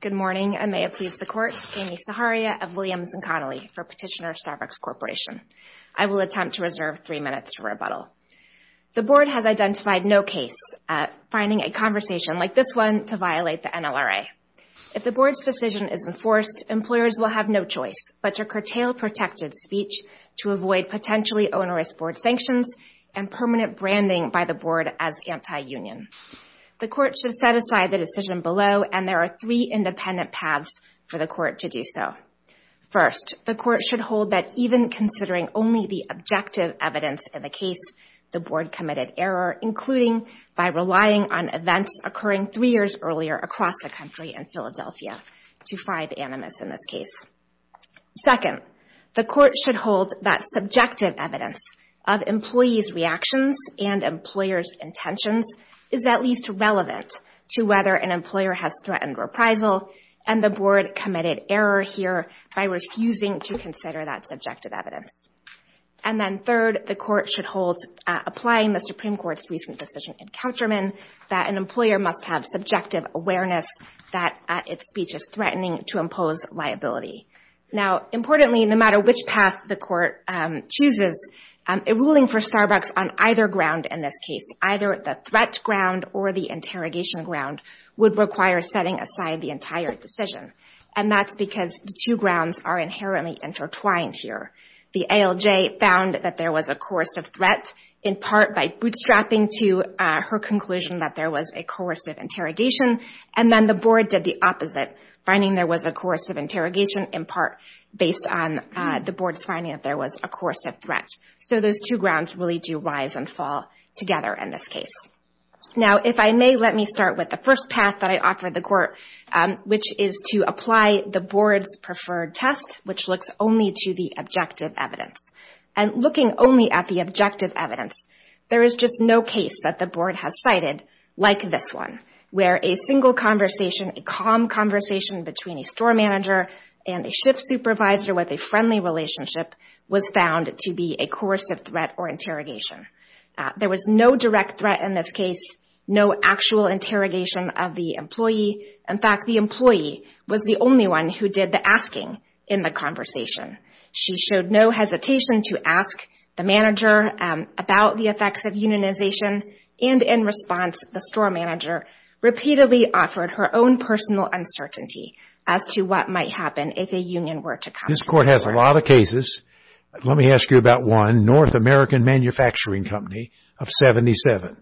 Good morning, and may it please the Court, Amy Saharia of Williams & Connolly for Petitioner Starbucks Corporation. I will attempt to reserve three minutes for rebuttal. The Board has identified no case at finding a conversation like this one to violate the NLRA. If the Board's decision is enforced, employers will have no choice but to curtail protected speech to avoid potentially onerous Board sanctions and permanent branding by the Board as anti-union. The Court should set aside the decision below, and there are three independent paths for the Court to do so. First, the Court should hold that even considering only the objective evidence in the case, the Board committed error, including by relying on events occurring three years earlier across the country and Philadelphia to find animus in this case. Second, the Court should hold that subjective evidence of employees' reactions and employers' intentions is at least relevant to whether an employer has threatened reprisal, and the Board committed error here by refusing to consider that subjective evidence. And then third, the Court should hold, applying the Supreme Court's recent decision in Countryman, that an employer must have subjective awareness that its speech is threatening to impose liability. Now importantly, no matter which path the Court chooses, a ruling for Starbucks on either ground in this case, either the threat ground or the interrogation ground, would require setting aside the entire decision, and that's because the two grounds are inherently intertwined here. The ALJ found that there was a course of threat in part by bootstrapping to her conclusion that there was a coercive interrogation, and then the Board did the opposite, finding there was a coercive interrogation in part based on the Board's finding that there was a coercive threat. So those two grounds really do rise and fall together in this case. Now if I may, let me start with the first path that I offer the Court, which is to apply the Board's preferred test, which looks only to the objective evidence. And looking only at the objective evidence, there is just no case that the Board has cited like this one, where a single conversation, a calm conversation between a store manager and a shift supervisor with a friendly relationship was found to be a coercive threat or interrogation. There was no direct threat in this case, no actual interrogation of the employee. In fact, the employee was the only one who did the asking in the conversation. She showed no hesitation to ask the manager about the effects of unionization, and in response, the store manager repeatedly offered her own personal uncertainty as to what might happen if a union were to come. This Court has a lot of cases. Let me ask you about one, North American Manufacturing Company of 77.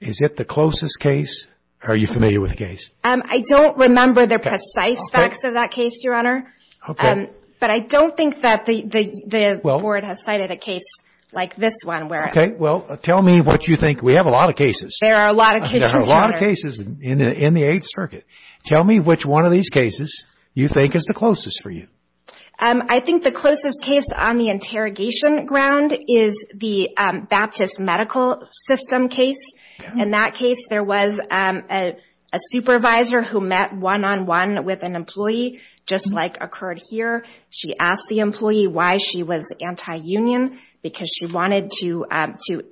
Is it the closest case, or are you familiar with the case? I don't remember the precise facts of that case, Your Honor, but I don't think that the Board has cited a case like this one. Okay, well, tell me what you think. We have a lot of cases. There are a lot of cases, Your Honor. There are a lot of cases in the Eighth Circuit. Tell me which one of these cases you think is the closest for you. I think the closest case on the interrogation ground is the Baptist Medical System case. In that case, there was a supervisor who met one-on-one with an employee, just like occurred here. She asked the employee why she was anti-union, because she wanted to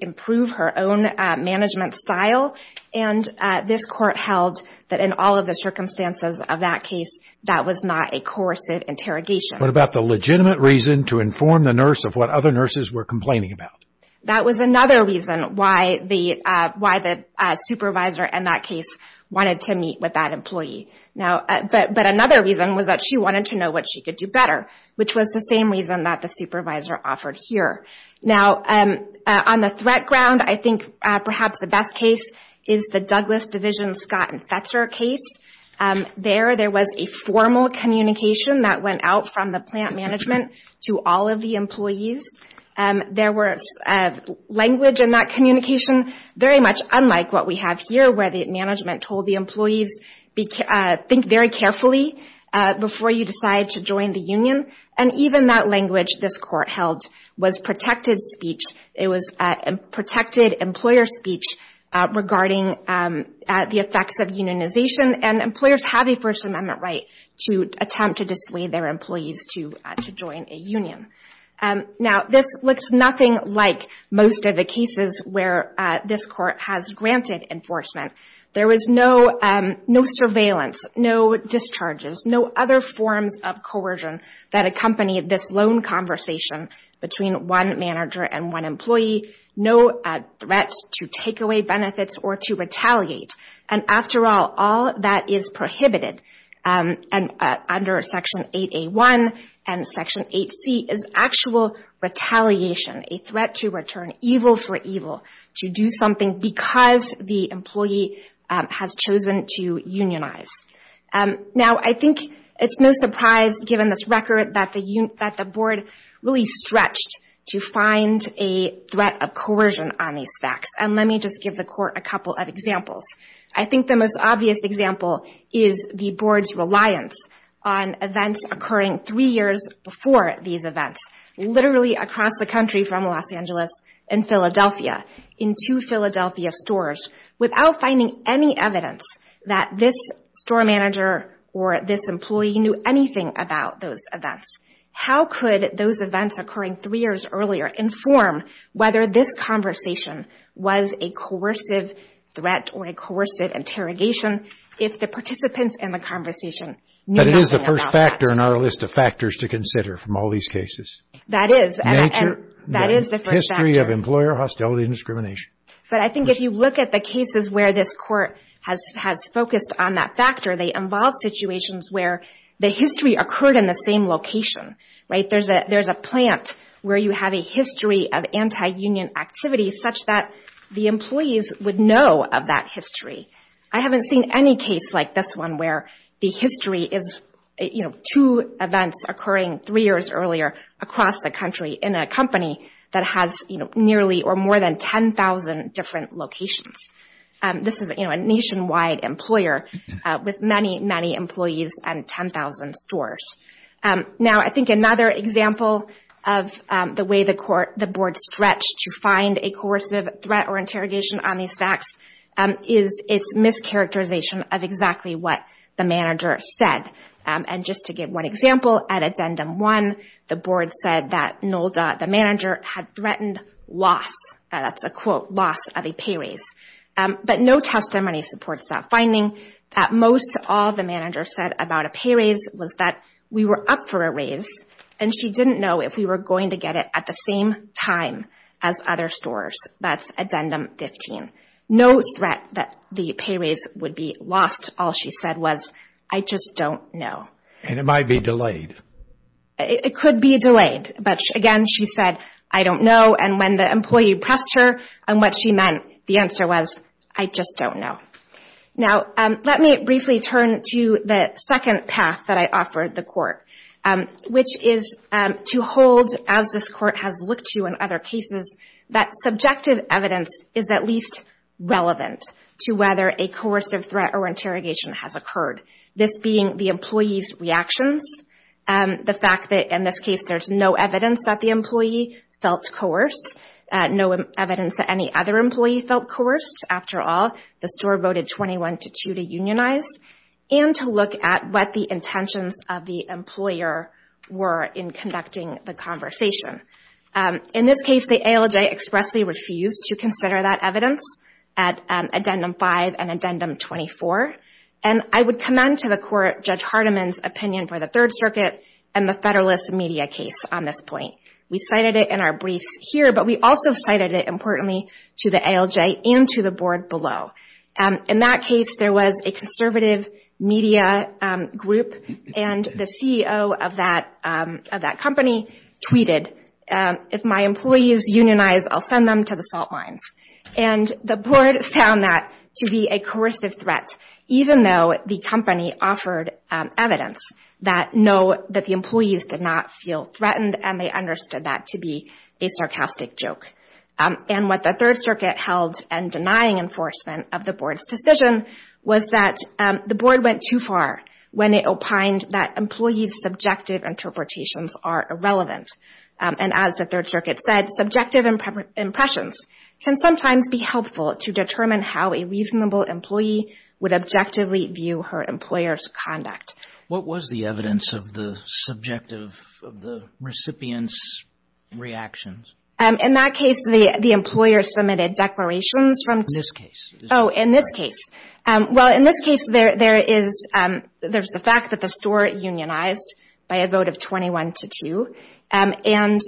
improve her own management style, and this Court held that in all of the circumstances of that case, that was not a coercive interrogation. What about the legitimate reason to inform the nurse of what other nurses were complaining about? That was another reason why the supervisor in that case wanted to meet with that employee. But another reason was that she wanted to know what she could do better, which was the same reason that the supervisor offered here. On the threat ground, I think perhaps the best case is the Douglas Division Scott and Fetzer case. There, there was a formal communication that went out from the plant management to all of the employees. There was language in that communication, very much unlike what we have here, where the management told the employees, think very carefully before you decide to join the union. Even that language this Court held was protected speech. It was protected employer speech regarding the effects of unionization. Employers have a First Amendment right to attempt to dissuade their employees to join a union. Now, this looks nothing like most of the cases where this Court has granted enforcement. There was no surveillance, no discharges, no other forms of coercion that accompanied this lone conversation between one manager and one employee, no threats to take away benefits or to retaliate. And after all, all that is prohibited under Section 8A1 and Section 8C is actual retaliation, a threat to return, evil for evil, to do something because the employee has chosen to unionize. Now I think it's no surprise, given this record, that the Board really stretched to find a threat of coercion on these facts. Let me just give the Court a couple of examples. I think the most obvious example is the Board's reliance on events occurring three years before these events, literally across the country from Los Angeles and Philadelphia, in two Philadelphia stores, without finding any evidence that this store manager or this employee knew anything about those events. How could those events occurring three years earlier inform whether this conversation was a coercive threat or a coercive interrogation if the participants in the conversation knew But it is the first factor in our list of factors to consider from all these cases. That is, and that is the first factor. History of employer hostility and discrimination. But I think if you look at the cases where this Court has focused on that factor, they involve situations where the history occurred in the same location, right? There's a plant where you have a history of anti-union activity such that the employees would know of that history. I haven't seen any case like this one where the history is two events occurring three years earlier across the country in a company that has nearly or more than 10,000 different locations. This is a nationwide employer with many, many employees and 10,000 stores. Now, I think another example of the way the Board stretched to find a coercive threat or interrogation on these facts is its mischaracterization of exactly what the manager said. And just to give one example, at Addendum 1, the Board said that Nolda, the manager, had threatened loss. That's a quote, loss of a pay raise. But no testimony supports that finding. At Addendum 2, she said that we were up for a raise, and she didn't know if we were going to get it at the same time as other stores. That's Addendum 15. No threat that the pay raise would be lost. All she said was, I just don't know. And it might be delayed. It could be delayed. But again, she said, I don't know. And when the employee pressed her on what she meant, the answer was, I just don't know. Now, let me briefly turn to the second path that I offered the Court, which is to hold, as this Court has looked to in other cases, that subjective evidence is at least relevant to whether a coercive threat or interrogation has occurred, this being the employee's reactions, the fact that in this case there's no evidence that the employee felt coerced, no evidence that any other employee felt coerced. After all, the store voted 21-2 to unionize, and to look at what the intentions of the employer were in conducting the conversation. In this case, the ALJ expressly refused to consider that evidence at Addendum 5 and Addendum 24. And I would commend to the Court Judge Hardiman's opinion for the Third Circuit and the Federalist Media case on this point. We cited it in our briefs here, but we also cited it importantly to the ALJ and to the Board below. In that case, there was a conservative media group, and the CEO of that company tweeted, if my employees unionize, I'll send them to the salt mines. And the Board found that to be a coercive threat, even though the company offered evidence that the employees did not feel threatened, and they understood that to be a sarcastic joke. And what the Third Circuit held and denying enforcement of the Board's decision was that the Board went too far when it opined that employees' subjective interpretations are irrelevant. And as the Third Circuit said, subjective impressions can sometimes be helpful to determine how a reasonable employee would objectively view her employer's conduct. What was the evidence of the subjective, of the recipient's reactions? In that case, the employer submitted declarations from... In this case. Oh, in this case. Well, in this case, there is the fact that the store unionized by a vote of 21 to 2, and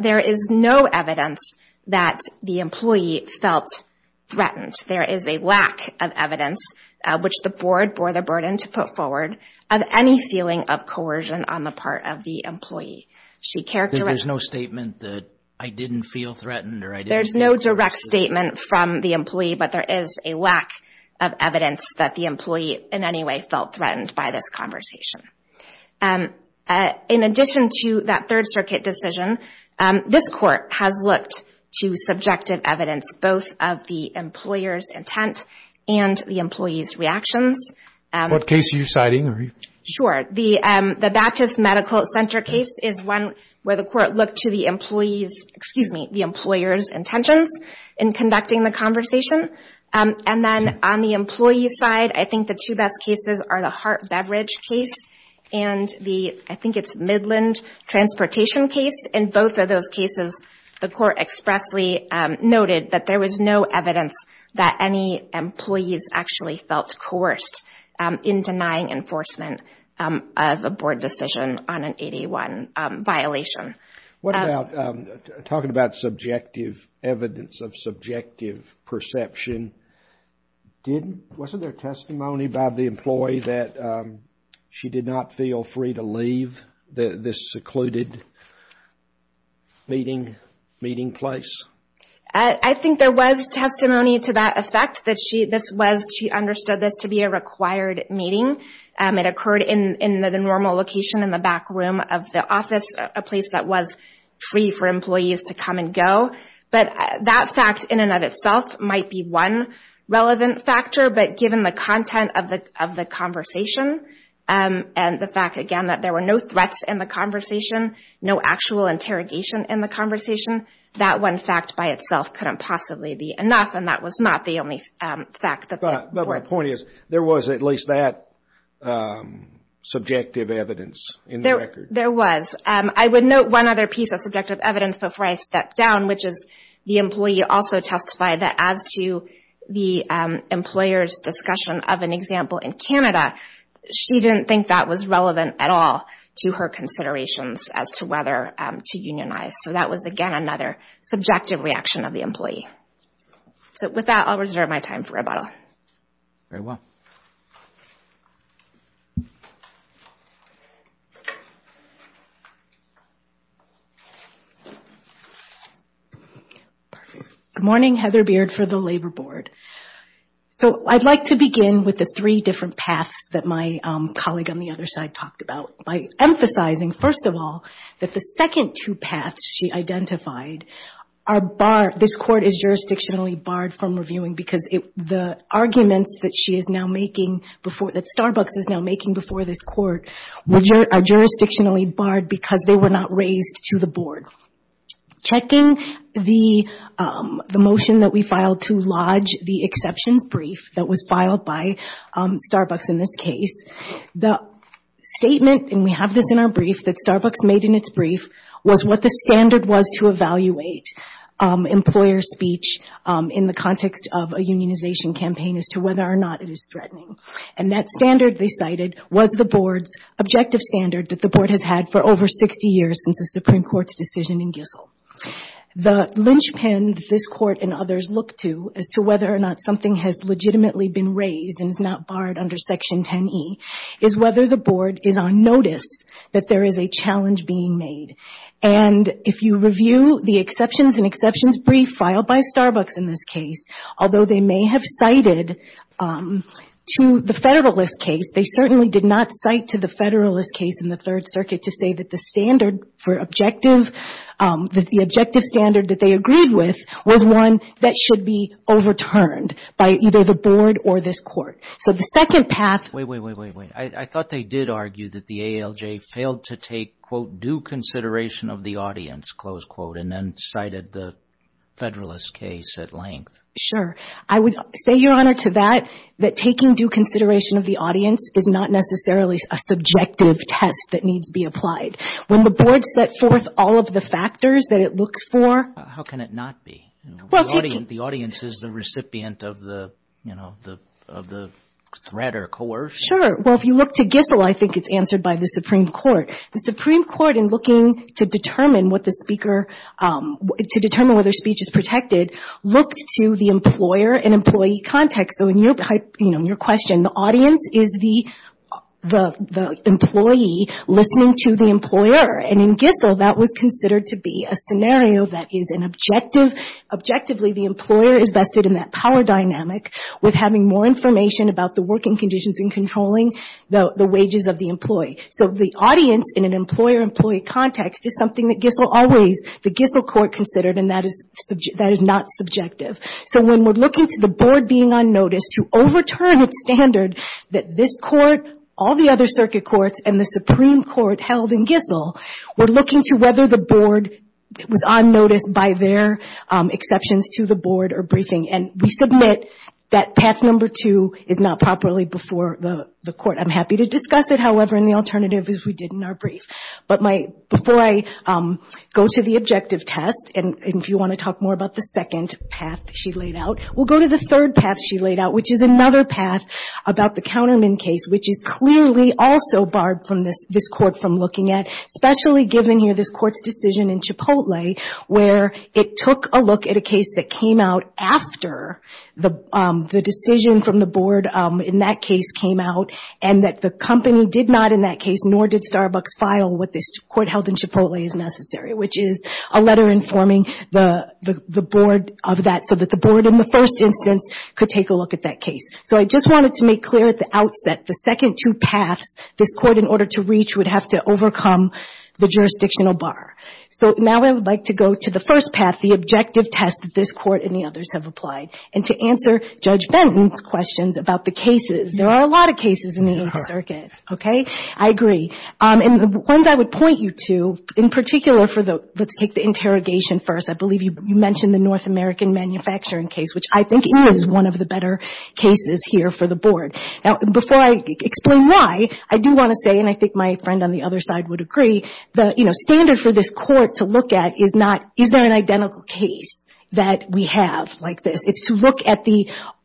there is no evidence that the employee felt threatened. There is a lack of evidence, which the Board bore the burden to put forward, of any feeling of coercion on the part of the employee. She characterized... There's no statement that I didn't feel threatened or I didn't... There's no direct statement from the employee, but there is a lack of evidence that the employee in any way felt threatened by this conversation. In addition to that Third Circuit decision, this Court has looked to subjective evidence, both of the employer's intent and the employee's What case are you citing? Sure. The Baptist Medical Center case is one where the Court looked to the employee's, excuse me, the employer's intentions in conducting the conversation. And then on the employee's side, I think the two best cases are the heart beverage case and the, I think it's Midland Transportation case. In both of those cases, the Court expressly noted that there was no evidence that any employees actually felt coerced in denying enforcement of a Board decision on an 81 violation. What about, talking about subjective evidence of subjective perception, wasn't there testimony by the employee that she did not feel free to leave this secluded meeting place? I think there was testimony to that effect, that she understood this to be a required meeting. It occurred in the normal location in the back room of the office, a place that was free for employees to come and go. But that fact in and of itself might be one relevant factor, but given the content of the conversation and the fact, again, that there were no threats in the conversation, no actual interrogation in the conversation, that one fact by itself couldn't possibly be enough, and that was not the only fact that there were. But my point is, there was at least that subjective evidence in the record. There was. I would note one other piece of subjective evidence before I step down, which is the employee also testified that as to the employer's discussion of an example in Canada, she didn't think that was relevant at all to her considerations as to whether to unionize. So that was, again, another subjective reaction of the employee. So with that, I'll reserve my time for rebuttal. Good morning. Heather Beard for the Labor Board. So I'd like to begin with the three different paths that my colleague on the other side talked about by emphasizing, first of all, that the second two paths she identified, this Court is jurisdictionally barred from reviewing because the arguments that Starbucks is now making before this Court are jurisdictionally barred because they were not raised to the Board. Checking the motion that we filed to lodge the exceptions brief that was filed by Starbucks in this case, the statement, and we have this in our brief, that Starbucks made in its brief was what the standard was to evaluate employer speech in the context of a unionization campaign as to whether or not it is threatening. And that standard they cited was the Board's objective standard that the Board has had for over 60 years since the Supreme Court's decision in Gissel. The linchpin that this Court and others look to as to whether or not something has legitimately been raised and is not barred under Section 10e is whether the Board is on notice that there is a challenge being made. And if you review the exceptions and exceptions brief filed by Starbucks in this case, although they may have cited to the Federalist case, they certainly did not cite to the Federalist case in the Third Circuit to say that the standard for objective, that the objective standard that they agreed with was one that should be overturned by either the Board or this Court. So the second path- Wait, wait, wait, wait, wait. I thought they did argue that the ALJ failed to take, quote, due consideration of the audience, close quote, and then cited the Federalist case at length. Sure. I would say, Your Honor, to that, that taking due consideration of the audience is not necessarily a subjective test that needs to be applied. When the Board set forth all of the factors that it looks for- How can it not be? The audience is the recipient of the, you know, of the threat or coercion. Sure. Well, if you look to Gissel, I think it's answered by the Supreme Court. The Supreme Court, in an employer-employee context, so in your question, the audience is the employee listening to the employer. And in Gissel, that was considered to be a scenario that is an objective. Objectively, the employer is vested in that power dynamic with having more information about the working conditions and controlling the wages of the employee. So the audience, in an employer-employee context, is something that Gissel always, the Gissel is not subjective. So when we're looking to the Board being on notice to overturn its standard that this Court, all the other circuit courts, and the Supreme Court held in Gissel, we're looking to whether the Board was on notice by their exceptions to the Board or briefing. And we submit that path number two is not properly before the Court. I'm happy to discuss it, however, in the alternative if we didn't, our brief. But before I go to the objective test, and if you want to talk more about the second path she laid out, we'll go to the third path she laid out, which is another path about the Counterman case, which is clearly also barred from this Court from looking at, especially given here this Court's decision in Chipotle, where it took a look at a case that came out after the decision from the Board in that case came out, and that the company did not in that case, nor did Starbucks file what this Court held in Chipotle as necessary, which is a letter informing the Board of that, so that the Board in the first instance could take a look at that case. So I just wanted to make clear at the outset the second two paths this Court, in order to reach, would have to overcome the jurisdictional bar. So now I would like to go to the first path, the objective test that this Court and the others have applied, and to answer Judge Benton's questions about the cases. There are a lot of cases in the Eighth Circuit, okay? I agree. And the ones I would point you to, in particular for the – let's take the interrogation first. I believe you mentioned the North American manufacturing case, which I think is one of the better cases here for the Board. Now, before I explain why, I do want to say – and I think my friend on the other side would agree – the, you know, standard for this Court to look at is not, is there an identical case that we have like this? It's to look at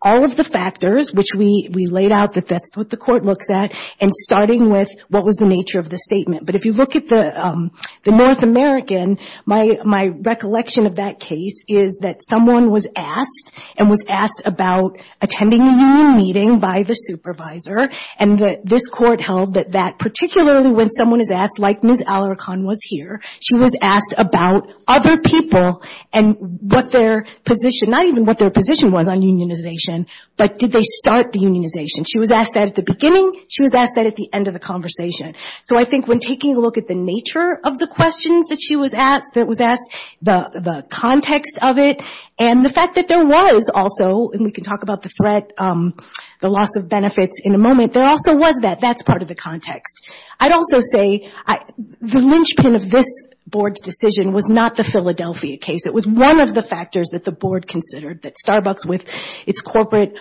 all of the factors, which we laid out, that that's what the Court looks at, and starting with what was the nature of the statement. But if you look at the North American, my recollection of that case is that someone was asked, and was asked about attending a union meeting by the supervisor, and that this Court held that that, particularly when someone is asked, like Ms. Alarcon was here, she was asked about other people and what their position – not even what their position was on unionization, but did they start the unionization. She was asked that at the beginning, she was asked that at the end of the conversation. So I think when taking a look at the nature of the questions that she was asked, that was asked, the context of it, and the fact that there was also – and we can talk about the threat, the loss of benefits in a moment – there also was that. That's part of the context. I'd also say the linchpin of this Board's decision was not the Philadelphia case. It was one of the factors that the Board considered, that Starbucks, with its corporate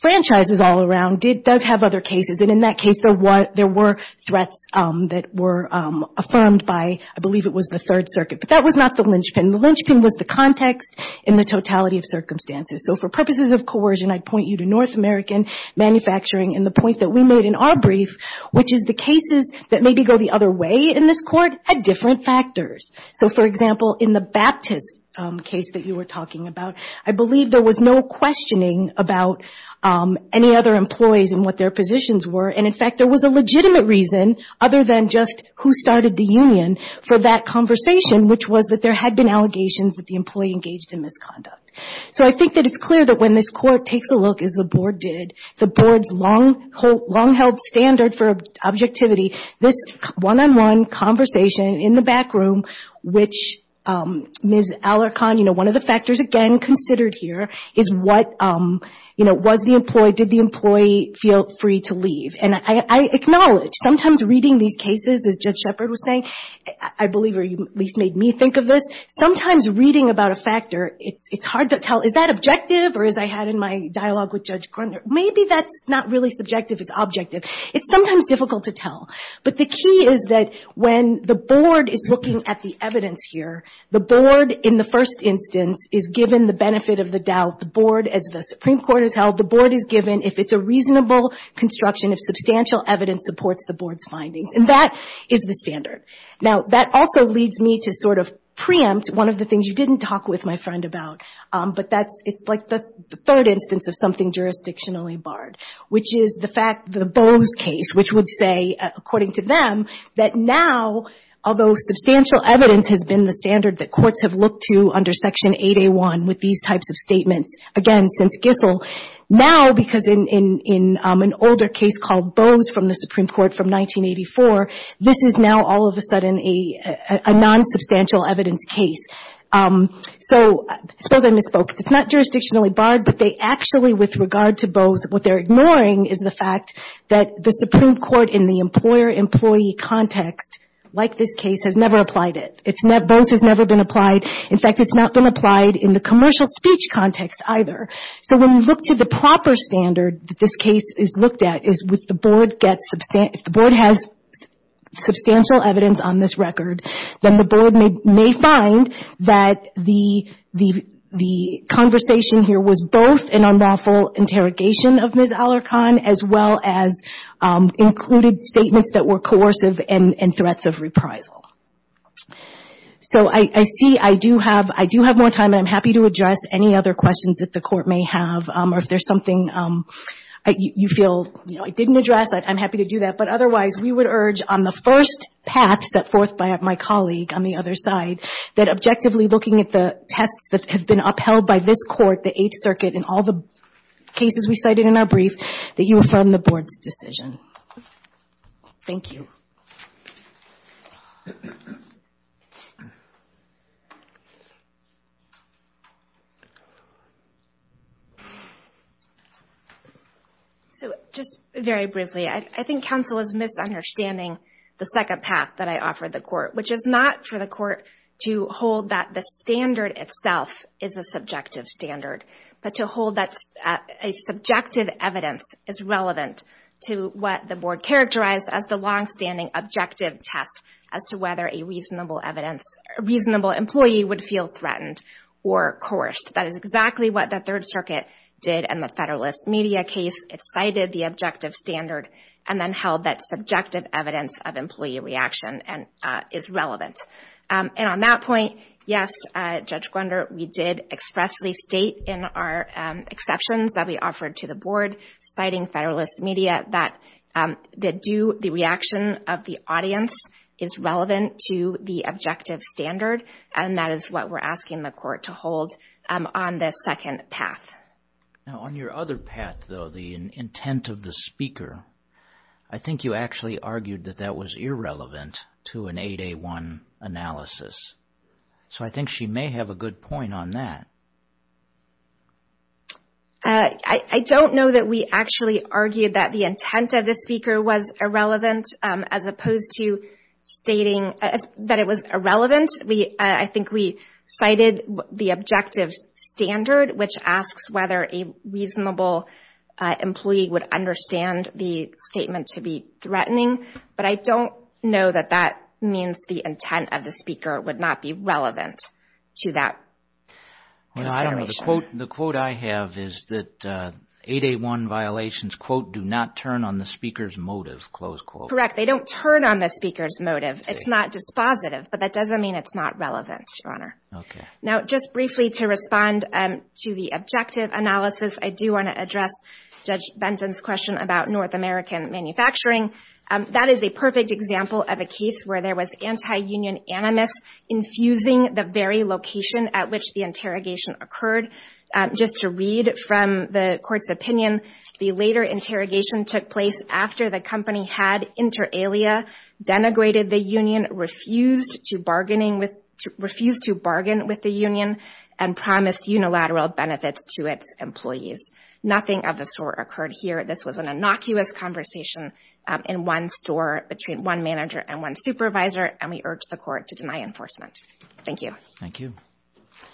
franchises all around, does have other cases. And in that case, there were threats that were affirmed by, I believe it was the Third Circuit. But that was not the linchpin. The linchpin was the context and the totality of circumstances. So for purposes of coercion, I'd point you to North American manufacturing. And the point that we made in our brief, which is the cases that maybe go the other way in this Court, had different factors. So for example, in the Baptist case that you were talking about, I believe there was no questioning about any other employees and what their positions were. And in fact, there was a legitimate reason, other than just who started the union, for that conversation, which was that there had been allegations that the employee engaged in misconduct. So I think that it's clear that when this Court takes a look, as the Board did, the long-held standard for objectivity, this one-on-one conversation in the back room, which Ms. Alarcon, one of the factors again considered here, was the employee, did the employee feel free to leave? And I acknowledge, sometimes reading these cases, as Judge Shepard was saying, I believe, or you at least made me think of this, sometimes reading about a factor, it's hard to tell, is that objective? Or as I had in my dialogue with Judge Grunder, maybe that's not really subjective, it's objective. It's sometimes difficult to tell. But the key is that when the Board is looking at the evidence here, the Board, in the first instance, is given the benefit of the doubt. The Board, as the Supreme Court has held, the Board is given, if it's a reasonable construction, if substantial evidence supports the Board's findings. And that is the standard. Now that also leads me to sort of preempt one of the things you didn't talk with my board, which is the fact, the Bose case, which would say, according to them, that now, although substantial evidence has been the standard that courts have looked to under Section 8A1 with these types of statements, again, since Gissel, now, because in an older case called Bose from the Supreme Court from 1984, this is now all of a sudden a non-substantial evidence case. So, I suppose I misspoke. It's not jurisdictionally barred, but they actually, with regard to Bose, what they're ignoring is the fact that the Supreme Court in the employer-employee context, like this case, has never applied it. Bose has never been applied. In fact, it's not been applied in the commercial speech context either. So when we look to the proper standard that this case is looked at, is if the Board has substantial evidence on this record, then the Board may find that the conversation here was both an unlawful interrogation of Ms. Alarcon, as well as included statements that were coercive and threats of reprisal. So I see I do have more time. I'm happy to address any other questions that the Court may have, or if there's something you feel I didn't address, I'm happy to do that. But I would urge, on the first path set forth by my colleague on the other side, that objectively looking at the tests that have been upheld by this Court, the Eighth Circuit, and all the cases we cited in our brief, that you affirm the Board's decision. Thank you. So, just very briefly, I think counsel is misunderstanding the second path that I offered the Court, which is not for the Court to hold that the standard itself is a subjective standard, but to hold that a subjective evidence is relevant to what the Board characterized as a longstanding objective test as to whether a reasonable employee would feel threatened or coerced. That is exactly what the Third Circuit did in the Federalist Media case. It cited the objective standard and then held that subjective evidence of employee reaction is relevant. And on that point, yes, Judge Gwender, we did expressly state in our exceptions that we offered to the Board, citing Federalist Media, that the reaction of the audience is relevant to the objective standard, and that is what we're asking the Court to hold on the second path. Now, on your other path, though, the intent of the speaker, I think you actually argued that that was irrelevant to an 8A1 analysis. So I think she may have a good point on that. I don't know that we actually argued that the intent of the speaker was irrelevant, as opposed to stating that it was irrelevant. I think we cited the objective standard, which asks whether a reasonable employee would understand the statement to be threatening, but I don't know that that means the intent of the speaker would not be relevant to that consideration. Well, I don't know. The quote I have is that 8A1 violations, quote, do not turn on the speaker's motive, close quote. Correct. They don't turn on the speaker's motive. It's not dispositive, but that doesn't mean it's not relevant, Your Honor. Okay. Now, just briefly to respond to the objective analysis, I do want to address Judge Benton's question about North American manufacturing. That is a perfect example of a case where there was anti-union animus infusing the very location at which the interrogation occurred. Just to read from the court's opinion, the later interrogation took place after the company had inter alia, denigrated the union, refused to bargain with the union, and promised unilateral benefits to its employees. Nothing of the sort occurred here. This was an innocuous conversation in one store between one manager and one supervisor, and we urge the court to deny enforcement. Thank you. Thank you.